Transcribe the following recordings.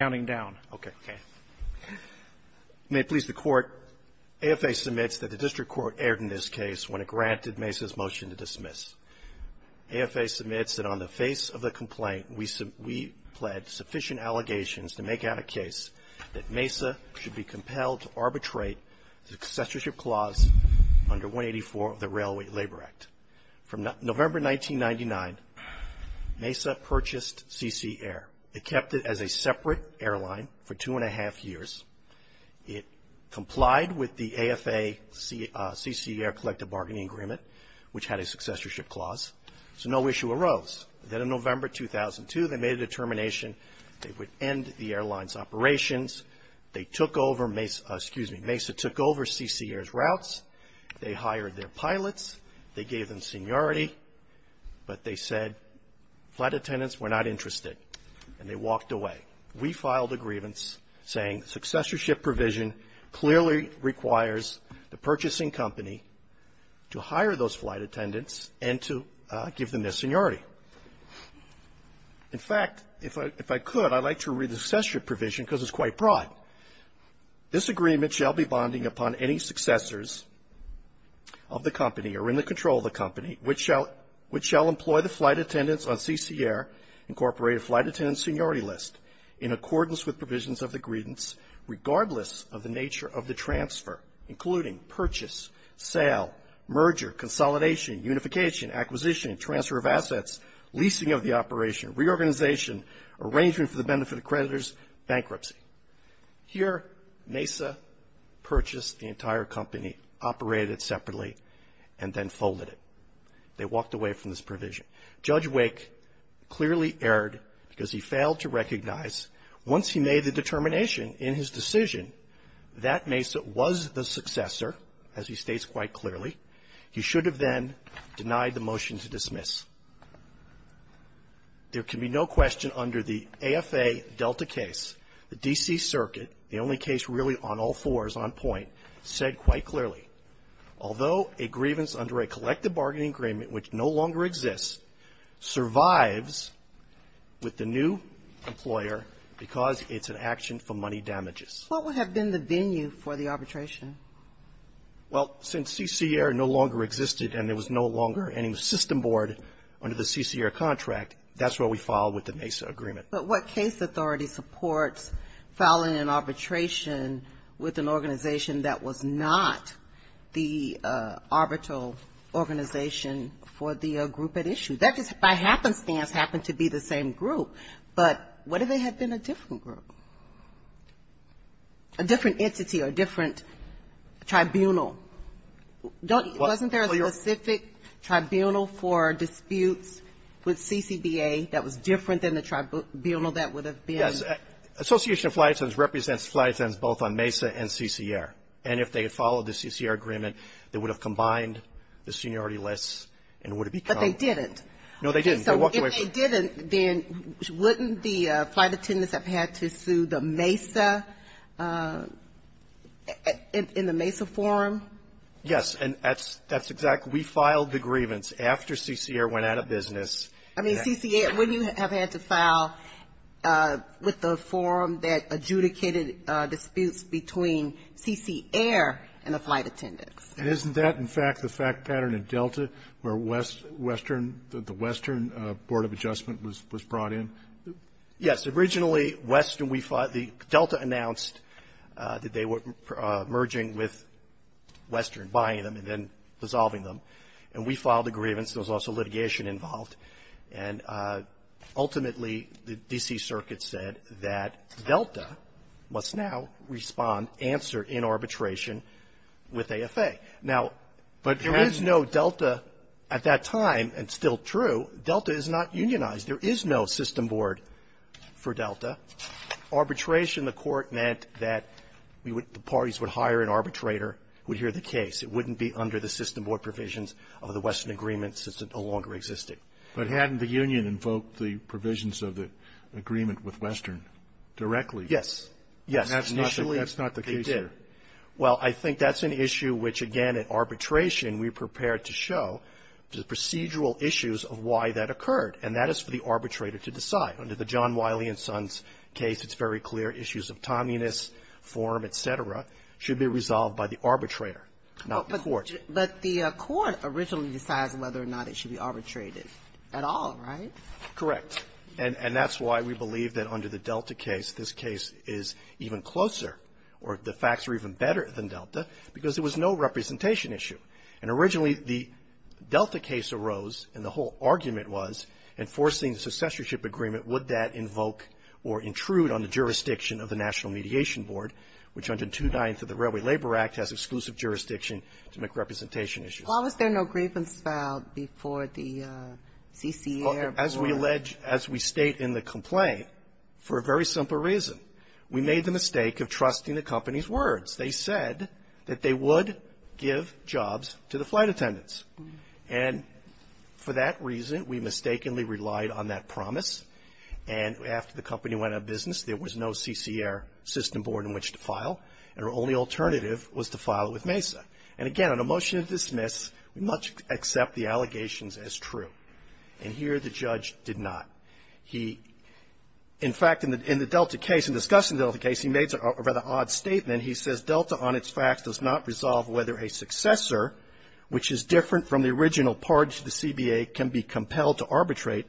Counting down. Okay. May it please the Court, AFA submits that the District Court erred in this case when it granted Mesa's motion to dismiss. AFA submits that on the face of the complaint, we pled sufficient allegations to make out a case that Mesa should be compelled to arbitrate the accessorship clause under 184 of the Railway Labor Act. From November 1999, Mesa purchased CC Air. It kept it as a separate airline for two and a half years. It complied with the AFA CC Air Collective Bargaining Agreement, which had a successorship clause. So no issue arose. Then in November 2002, they made a determination they would end the airline's operations. They took over Mesa, excuse me, Mesa took over CC Air's routes. They hired their pilots. They gave them seniority. But they said flight Attendants were not interested, and they walked away. We filed a grievance saying successorship provision clearly requires the purchasing company to hire those flight Attendants and to give them their seniority. In fact, if I could, I'd like to read the successorship provision because it's quite broad. This agreement shall be bonding upon any successors of the company or in the control of the company which shall employ the flight Attendants on CC Air Incorporated flight Attendant seniority list in accordance with provisions of the grievance, regardless of the nature of the transfer, including purchase, sale, merger, consolidation, unification, acquisition, transfer of assets, leasing of the operation, reorganization, arrangement for the benefit of creditors, bankruptcy. Here Mesa purchased the entire company, operated it separately, and then folded it. They walked away from this provision. Judge Wake clearly erred because he failed to recognize once he made the determination in his decision that Mesa was the successor, as he states quite clearly, he should have then denied the motion to dismiss. There can be no question under the AFA Delta case, the D.C. Circuit, the only case really on all fours on point, said quite clearly, although a grievance under a collective bargaining agreement which no longer exists, survives with the new employer because it's an action for money damages. What would have been the venue for the arbitration? Well, since CC Air no longer existed and there was no longer any system board under the CC Air contract, that's where we filed with the Mesa agreement. But what case authority supports filing an arbitration with an organization that was not the arbitral organization for the group at issue? That just by happenstance happened to be the same group. But what if they had been a different group? A different entity or different tribunal? Wasn't there a specific tribunal for disputes with CCBA that was different than the tribunal that would have been? Yes. Association of Flight Attendants represents flight attendants both on Mesa and CC Air. And if they had followed the CC Air agreement, they would have combined the seniority lists and would have become. But they didn't. No, they didn't. So if they didn't, then wouldn't the flight attendants have had to sue the Mesa in the Mesa forum? Yes. And that's exactly. We filed the grievance after CC Air went out of business. I mean, CC Air, wouldn't you have had to file with the forum that adjudicated disputes between CC Air and the flight attendants? And isn't that, in fact, the fact pattern at Delta where West, Western, the Western Board of Adjustment was brought in? Yes. Originally, Western, we filed the Delta announced that they were merging with Western, buying them and then dissolving them. And we filed a grievance. There was also litigation involved. And ultimately, the D.C. Circuit said that Delta must now respond, answer in arbitration with AFA. Now, there is no Delta at that time, and still true, Delta is not unionized. There is no system board for Delta. Arbitration, the Court meant that we would the parties would hire an arbitrator who would hear the case. It wouldn't be under the system board provisions of the Western agreement since it no longer existed. But hadn't the union invoked the provisions of the agreement with Western directly? Yes. Yes. Initially, they did. That's not the case here. Well, I think that's an issue which, again, in arbitration, we prepared to show the procedural issues of why that occurred. And that is for the arbitrator to decide. Under the John Wiley and Sons case, it's very clear issues of timeliness, form, et cetera, should be resolved by the arbitrator, not the court. But the court originally decides whether or not it should be arbitrated at all, right? Correct. And that's why we believe that under the Delta case, this case is even closer. Or the facts are even better than Delta, because there was no representation issue. And originally, the Delta case arose, and the whole argument was, enforcing the successorship agreement, would that invoke or intrude on the jurisdiction of the National Mediation Board, which, under 290 of the Railway Labor Act, has exclusive jurisdiction to make representation issues. Why was there no grievance filed before the CCA or before? As we allege, as we state in the complaint, for a very simple reason. We made the mistake of trusting the company's words. They said that they would give jobs to the flight attendants. And for that reason, we mistakenly relied on that promise. And after the company went out of business, there was no CCA or system board in which to file, and our only alternative was to file with MESA. And again, on a motion to dismiss, we must accept the allegations as true. And here, the judge did not. He, in fact, in the Delta case, in discussing the Delta case, he made a rather odd statement. He says, Delta, on its facts, does not resolve whether a successor, which is different from the original party to the CBA, can be compelled to arbitrate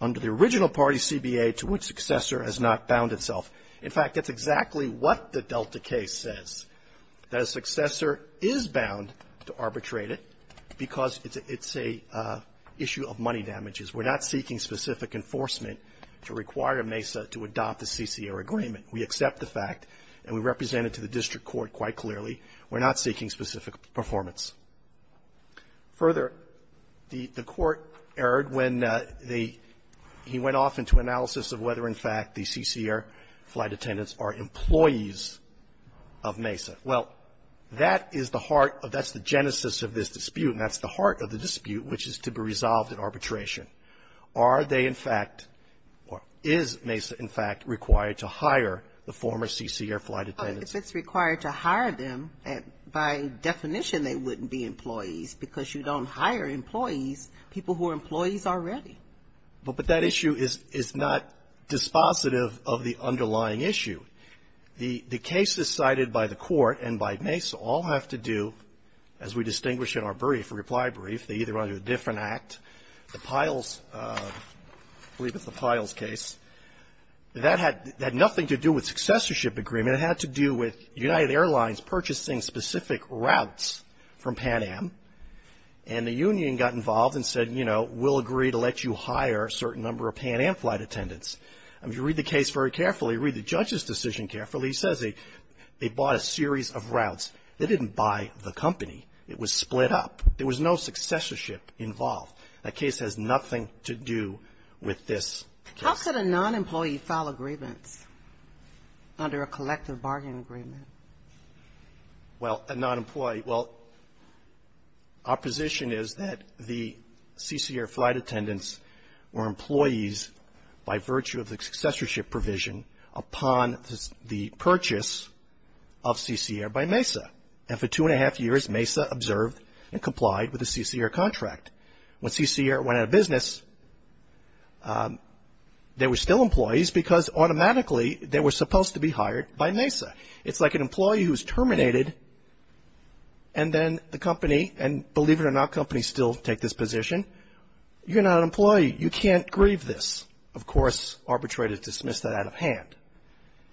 under the original party CBA to which successor has not bound itself. In fact, that's exactly what the Delta case says, that a successor is bound to arbitrate it because it's a issue of money damages. We're not seeking specific enforcement to require MESA to adopt the CCA agreement. We accept the fact, and we represent it to the district court quite clearly. We're not seeking specific performance. Further, the court erred when he went off into analysis of whether, in fact, the CCA flight attendants are employees of MESA. Well, that is the heart of, that's the genesis of this dispute, and that's the heart of the dispute, which is to be resolved in arbitration. Are they, in fact, or is MESA, in fact, required to hire the former CCA flight attendants? If it's required to hire them, by definition, they wouldn't be employees because you don't hire employees, people who are employees already. But that issue is not dispositive of the underlying issue. The cases cited by the court and by MESA all have to do, as we distinguish in our brief or reply brief, they either run under a different act. The Piles, I believe it's the Piles case, that had nothing to do with successorship agreement. It had to do with United Airlines purchasing specific routes from Pan Am, and the union got involved and said, you know, we'll agree to let you hire a certain number of Pan Am flight attendants. I mean, if you read the case very carefully, read the judge's decision carefully, he says they bought a series of routes. They didn't buy the company. It was split up. There was no successorship involved. That case has nothing to do with this case. How could a non-employee file a grievance under a collective bargain agreement? Well, a non-employee. Well, our position is that the CCA flight attendants were employees by virtue of the successorship provision upon the purchase of CCA by MESA. And for two and a half years, MESA observed and complied with the CCA contract. When CCA went out of business, they were still employees because automatically they were supposed to be hired by MESA. It's like an employee who's terminated, and then the company, and believe it or not, companies still take this position. You're not an employee. You can't grieve this. Of course, arbitrators dismiss that out of hand.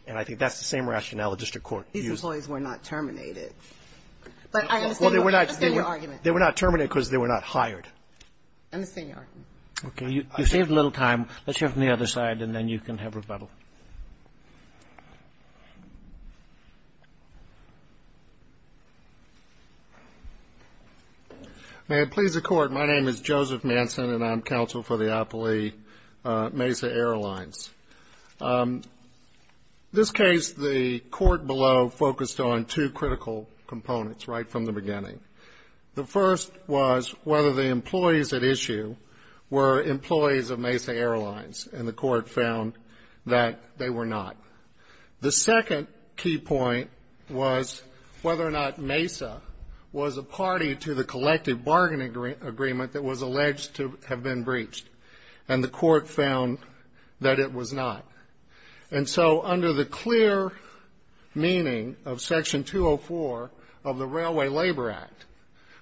And I think that's the same rationale the district court used. The employees were not terminated. But I understand your argument. They were not terminated because they were not hired. I understand your argument. Okay. You saved a little time. Let's hear from the other side, and then you can have rebuttal. May it please the Court. My name is Joseph Manson, and I'm counsel for the Appley MESA Airlines. This case, the court below focused on two critical components right from the beginning. The first was whether the employees at issue were employees of MESA Airlines, and the court found that they were not. The second key point was whether or not MESA was a party to the collective bargaining agreement that was alleged to have been breached, and the court found that it was not. And so under the clear meaning of Section 204 of the Railway Labor Act,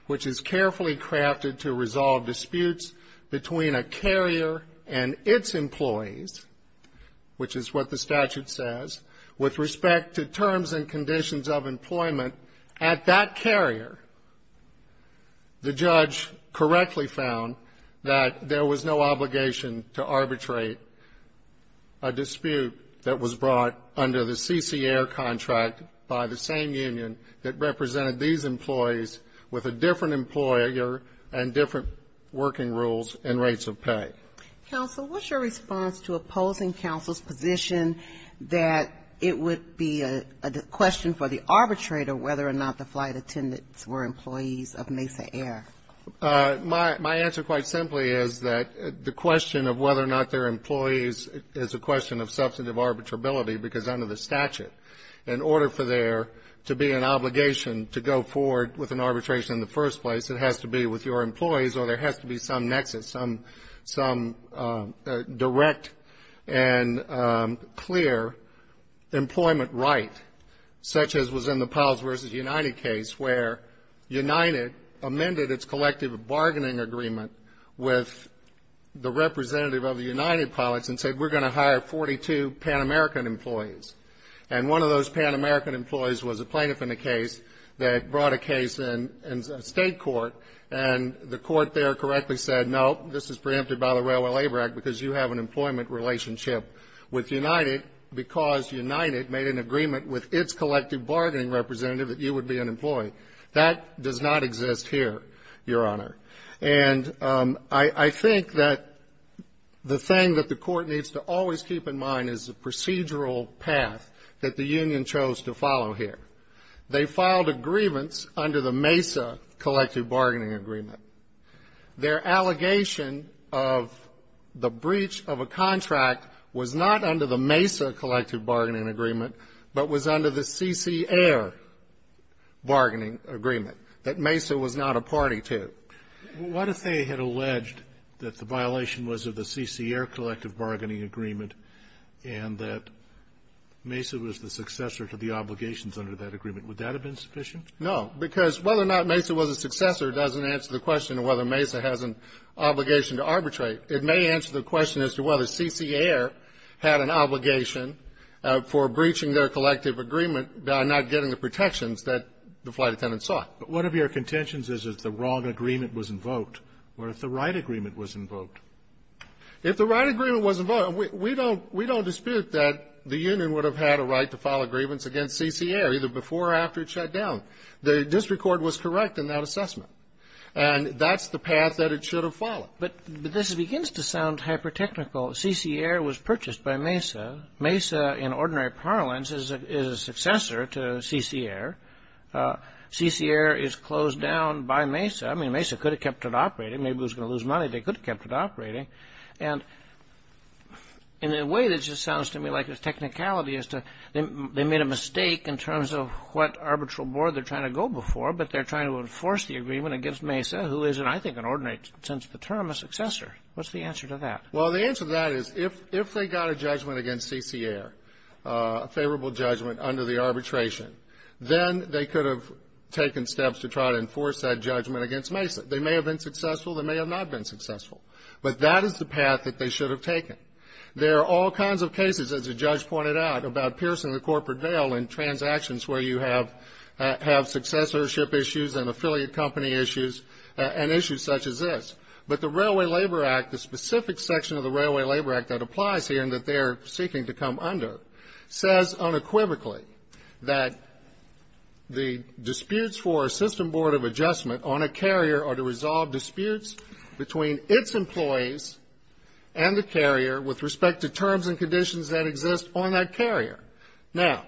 which is carefully crafted to resolve disputes between a carrier and its employees, which is what the statute says, with respect to terms and conditions of employment, at that carrier, the judge correctly found that there was no obligation to arbitrate a dispute that was brought under the CCAIR contract by the same union that represented these employees with a different employer and different working rules and rates of pay. Counsel, what's your response to opposing counsel's position that it would be a question for the arbitrator whether or not the flight attendants were employees of MESA Airlines, and whether or not MESA was a party to the collective bargaining agreement that was alleged to have been breached? I think that the thing that the court did was it brought a case in the state court and the court there correctly said, no, this is preempted by the Railway Labor Act because you have an employment relationship with United because United made an agreement with its collective bargaining representative that you would be an employee. That does not exist here, Your Honor. And I think that the thing that the court needs to always keep in mind is the procedural path that the union chose to follow here. They filed a grievance under the MESA collective bargaining agreement. Their allegation of the breach of a contract was not under the MESA collective bargaining agreement, that MESA was not a party to. What if they had alleged that the violation was of the CCAIR collective bargaining agreement and that MESA was the successor to the obligations under that agreement? Would that have been sufficient? No, because whether or not MESA was a successor doesn't answer the question of whether MESA has an obligation to arbitrate. It may answer the question as to whether CCAIR had an obligation for breaching their obligations. If the right agreement was invoked, we don't dispute that the union would have had a right to file a grievance against CCAIR either before or after it shut down. The district court was correct in that assessment. And that's the path that it should have followed. But this begins to sound hyper-technical. CCAIR was purchased by MESA. MESA, in ordinary parlance, is a successor to CCAIR. CCAIR is closed down by MESA. I mean, MESA could have kept it operating. Maybe it was going to lose money. They could have kept it operating. And in a way, this just sounds to me like a technicality as to they made a mistake in terms of what arbitral board they're trying to go before, but they're trying to enforce the agreement against MESA, who is, in I think an ordinary sense of the term, a successor. What's the answer to that? Well, the answer to that is if they got a judgment against CCAIR, a favorable judgment under the arbitration, then they could have taken steps to try to enforce that judgment against MESA. They may have been successful. They may have not been successful. But that is the path that they should have taken. There are all kinds of cases, as the judge pointed out, about piercing the corporate veil in transactions where you have successorship issues and affiliate company issues and issues such as this. But the Railway Labor Act, the specific section of the Railway Labor Act that applies here and that they're seeking to come under, says unequivocally that the disputes for a system board of adjustment on a carrier are to resolve disputes between its employees and the carrier with respect to terms and conditions that exist on that carrier. Now,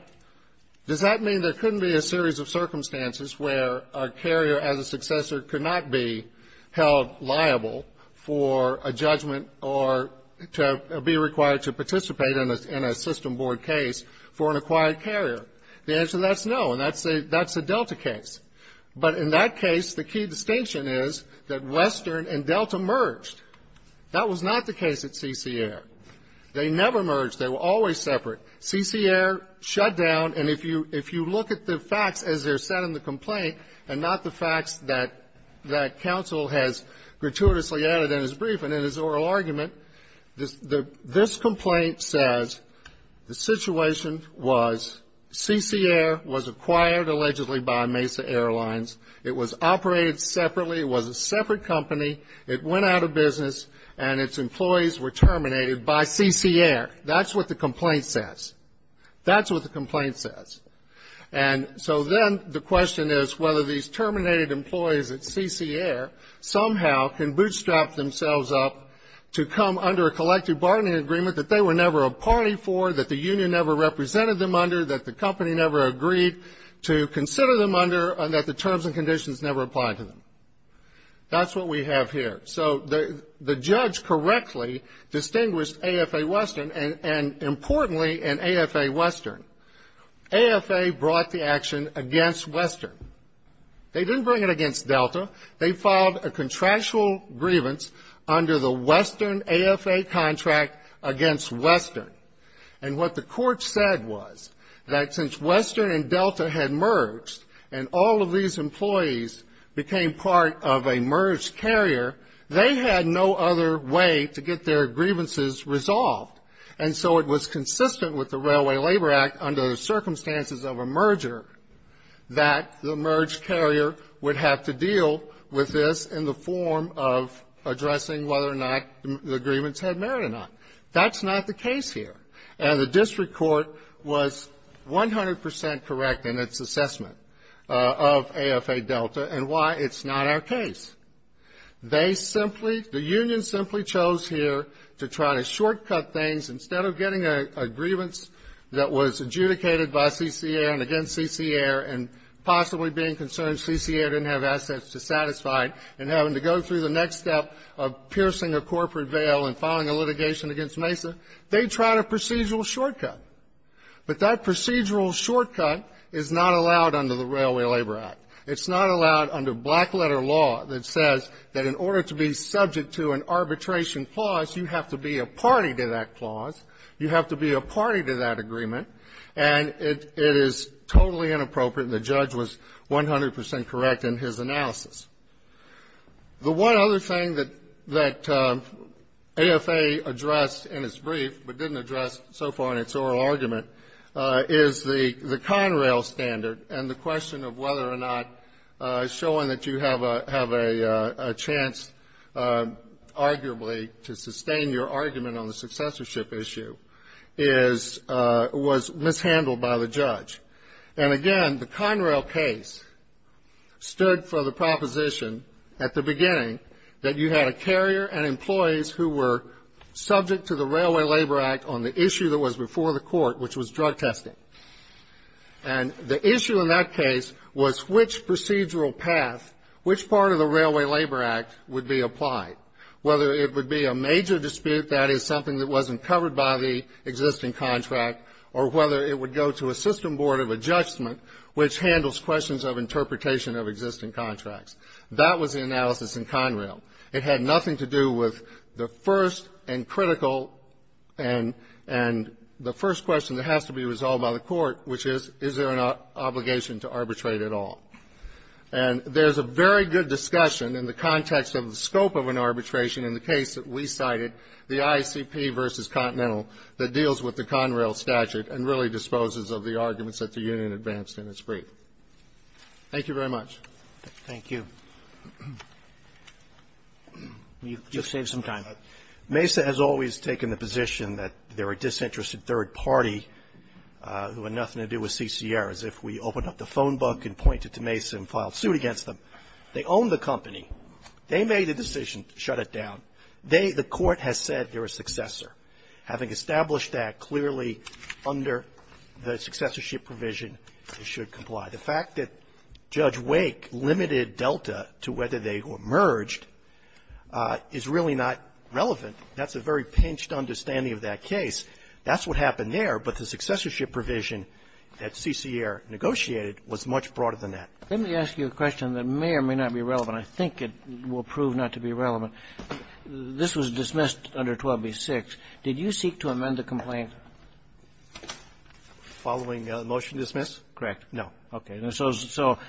does that mean there couldn't be a series of circumstances where a carrier as a successor could not be held liable for a judgment or to be required to participate in a system board case for an acquired carrier? The answer to that is no, and that's the Delta case. But in that case, the key distinction is that Western and Delta merged. That was not the case at CCAIR. They never merged. They were always separate. CCAIR shut down, and if you look at the facts as they're set in the complaint and not the facts that counsel has gratuitously added in his brief and in his oral argument, this complaint says the situation was CCAIR was acquired allegedly by Mesa Airlines. It was operated separately. It was a separate company. It went out of business, and its employees were terminated by CCAIR. That's what the complaint says. That's what the complaint says. And so then the question is whether these terminated employees at CCAIR somehow can bootstrap themselves up to come under a collective bargaining agreement that they were never a party for, that the union never represented them under, that the company never agreed to consider them under, and that the terms and conditions never applied to them. That's what we have here. So the judge correctly distinguished AFA Western and, importantly, in AFA Western. AFA brought the action against Western. They didn't bring it against Delta. They filed a contractual grievance under the Western AFA contract against Western. And what the court said was that since Western and Delta had merged and all of these employees became part of a merged carrier, they had no other way to get their grievances resolved. And so it was consistent with the Railway Labor Act under the circumstances of a merger that the merged carrier would have to deal with this in the form of addressing whether or not the grievance had merit or not. That's not the case here. And the district court was 100 percent correct in its assessment of AFA Delta and why it's not our case. They simply, the union simply chose here to try to shortcut things instead of getting a grievance that was adjudicated by CCAIR and against CCAIR and possibly being concerned CCAIR didn't have assets to satisfy, and having to go through the next step of piercing a corporate veil and filing a litigation against MESA, they tried a procedural shortcut. But that procedural shortcut is not allowed under the Railway Labor Act. It's not allowed under black letter law that says that in order to be subject to an arbitration clause, you have to be a party to that clause. You have to be a party to that agreement. And it is totally inappropriate, and the judge was 100 percent correct in his analysis. The one other thing that AFA addressed in its brief, but didn't address so far in its oral argument, is the Conrail standard and the question of whether or not showing that you have a chance, arguably, to sustain your argument on the successorship issue is, was mishandled by the judge. And again, the Conrail case stood for the proposition at the beginning that you had a carrier and employees who were subject to the Railway Labor Act on the issue that was before the court, which was drug testing. And the issue in that case was which procedural path, which part of the Railway Labor Act would be applied, whether it would be a major dispute, that is, something that wasn't covered by the existing contract, or whether it would go to a system board of adjustment which handles questions of interpretation of existing contracts. That was the analysis in Conrail. It had nothing to do with the first and critical and the first question that has to be resolved by the court, which is, is there an obligation to arbitrate at all? And there's a very good discussion in the context of the scope of an arbitration in the case that we cited, the ICP v. Continental, that deals with the Conrail statute and really disposes of the arguments that the union advanced in its brief. Thank you very much. Roberts. Thank you. You've saved some time. Mesa has always taken the position that they're a disinterested third party who had nothing to do with CCR, as if we opened up the phone book and pointed to Mesa and filed suit against them. They own the company. They made a decision to shut it down. They, the court, has said they're a successor. Having established that clearly under the successorship provision, they should comply. The fact that Judge Wake limited Delta to whether they were merged is really not relevant. That's a very pinched understanding of that case. That's what happened there. But the successorship provision that CCR negotiated was much broader than that. Let me ask you a question that may or may not be relevant. I think it will prove not to be relevant. This was dismissed under 12b-6. Did you seek to amend the complaint following the motion to dismiss? Correct. No. Okay. So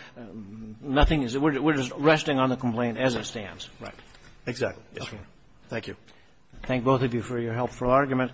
nothing is we're just resting on the complaint as it stands. Right. Exactly. Yes, sir. Thank you. Thank both of you for your helpful argument.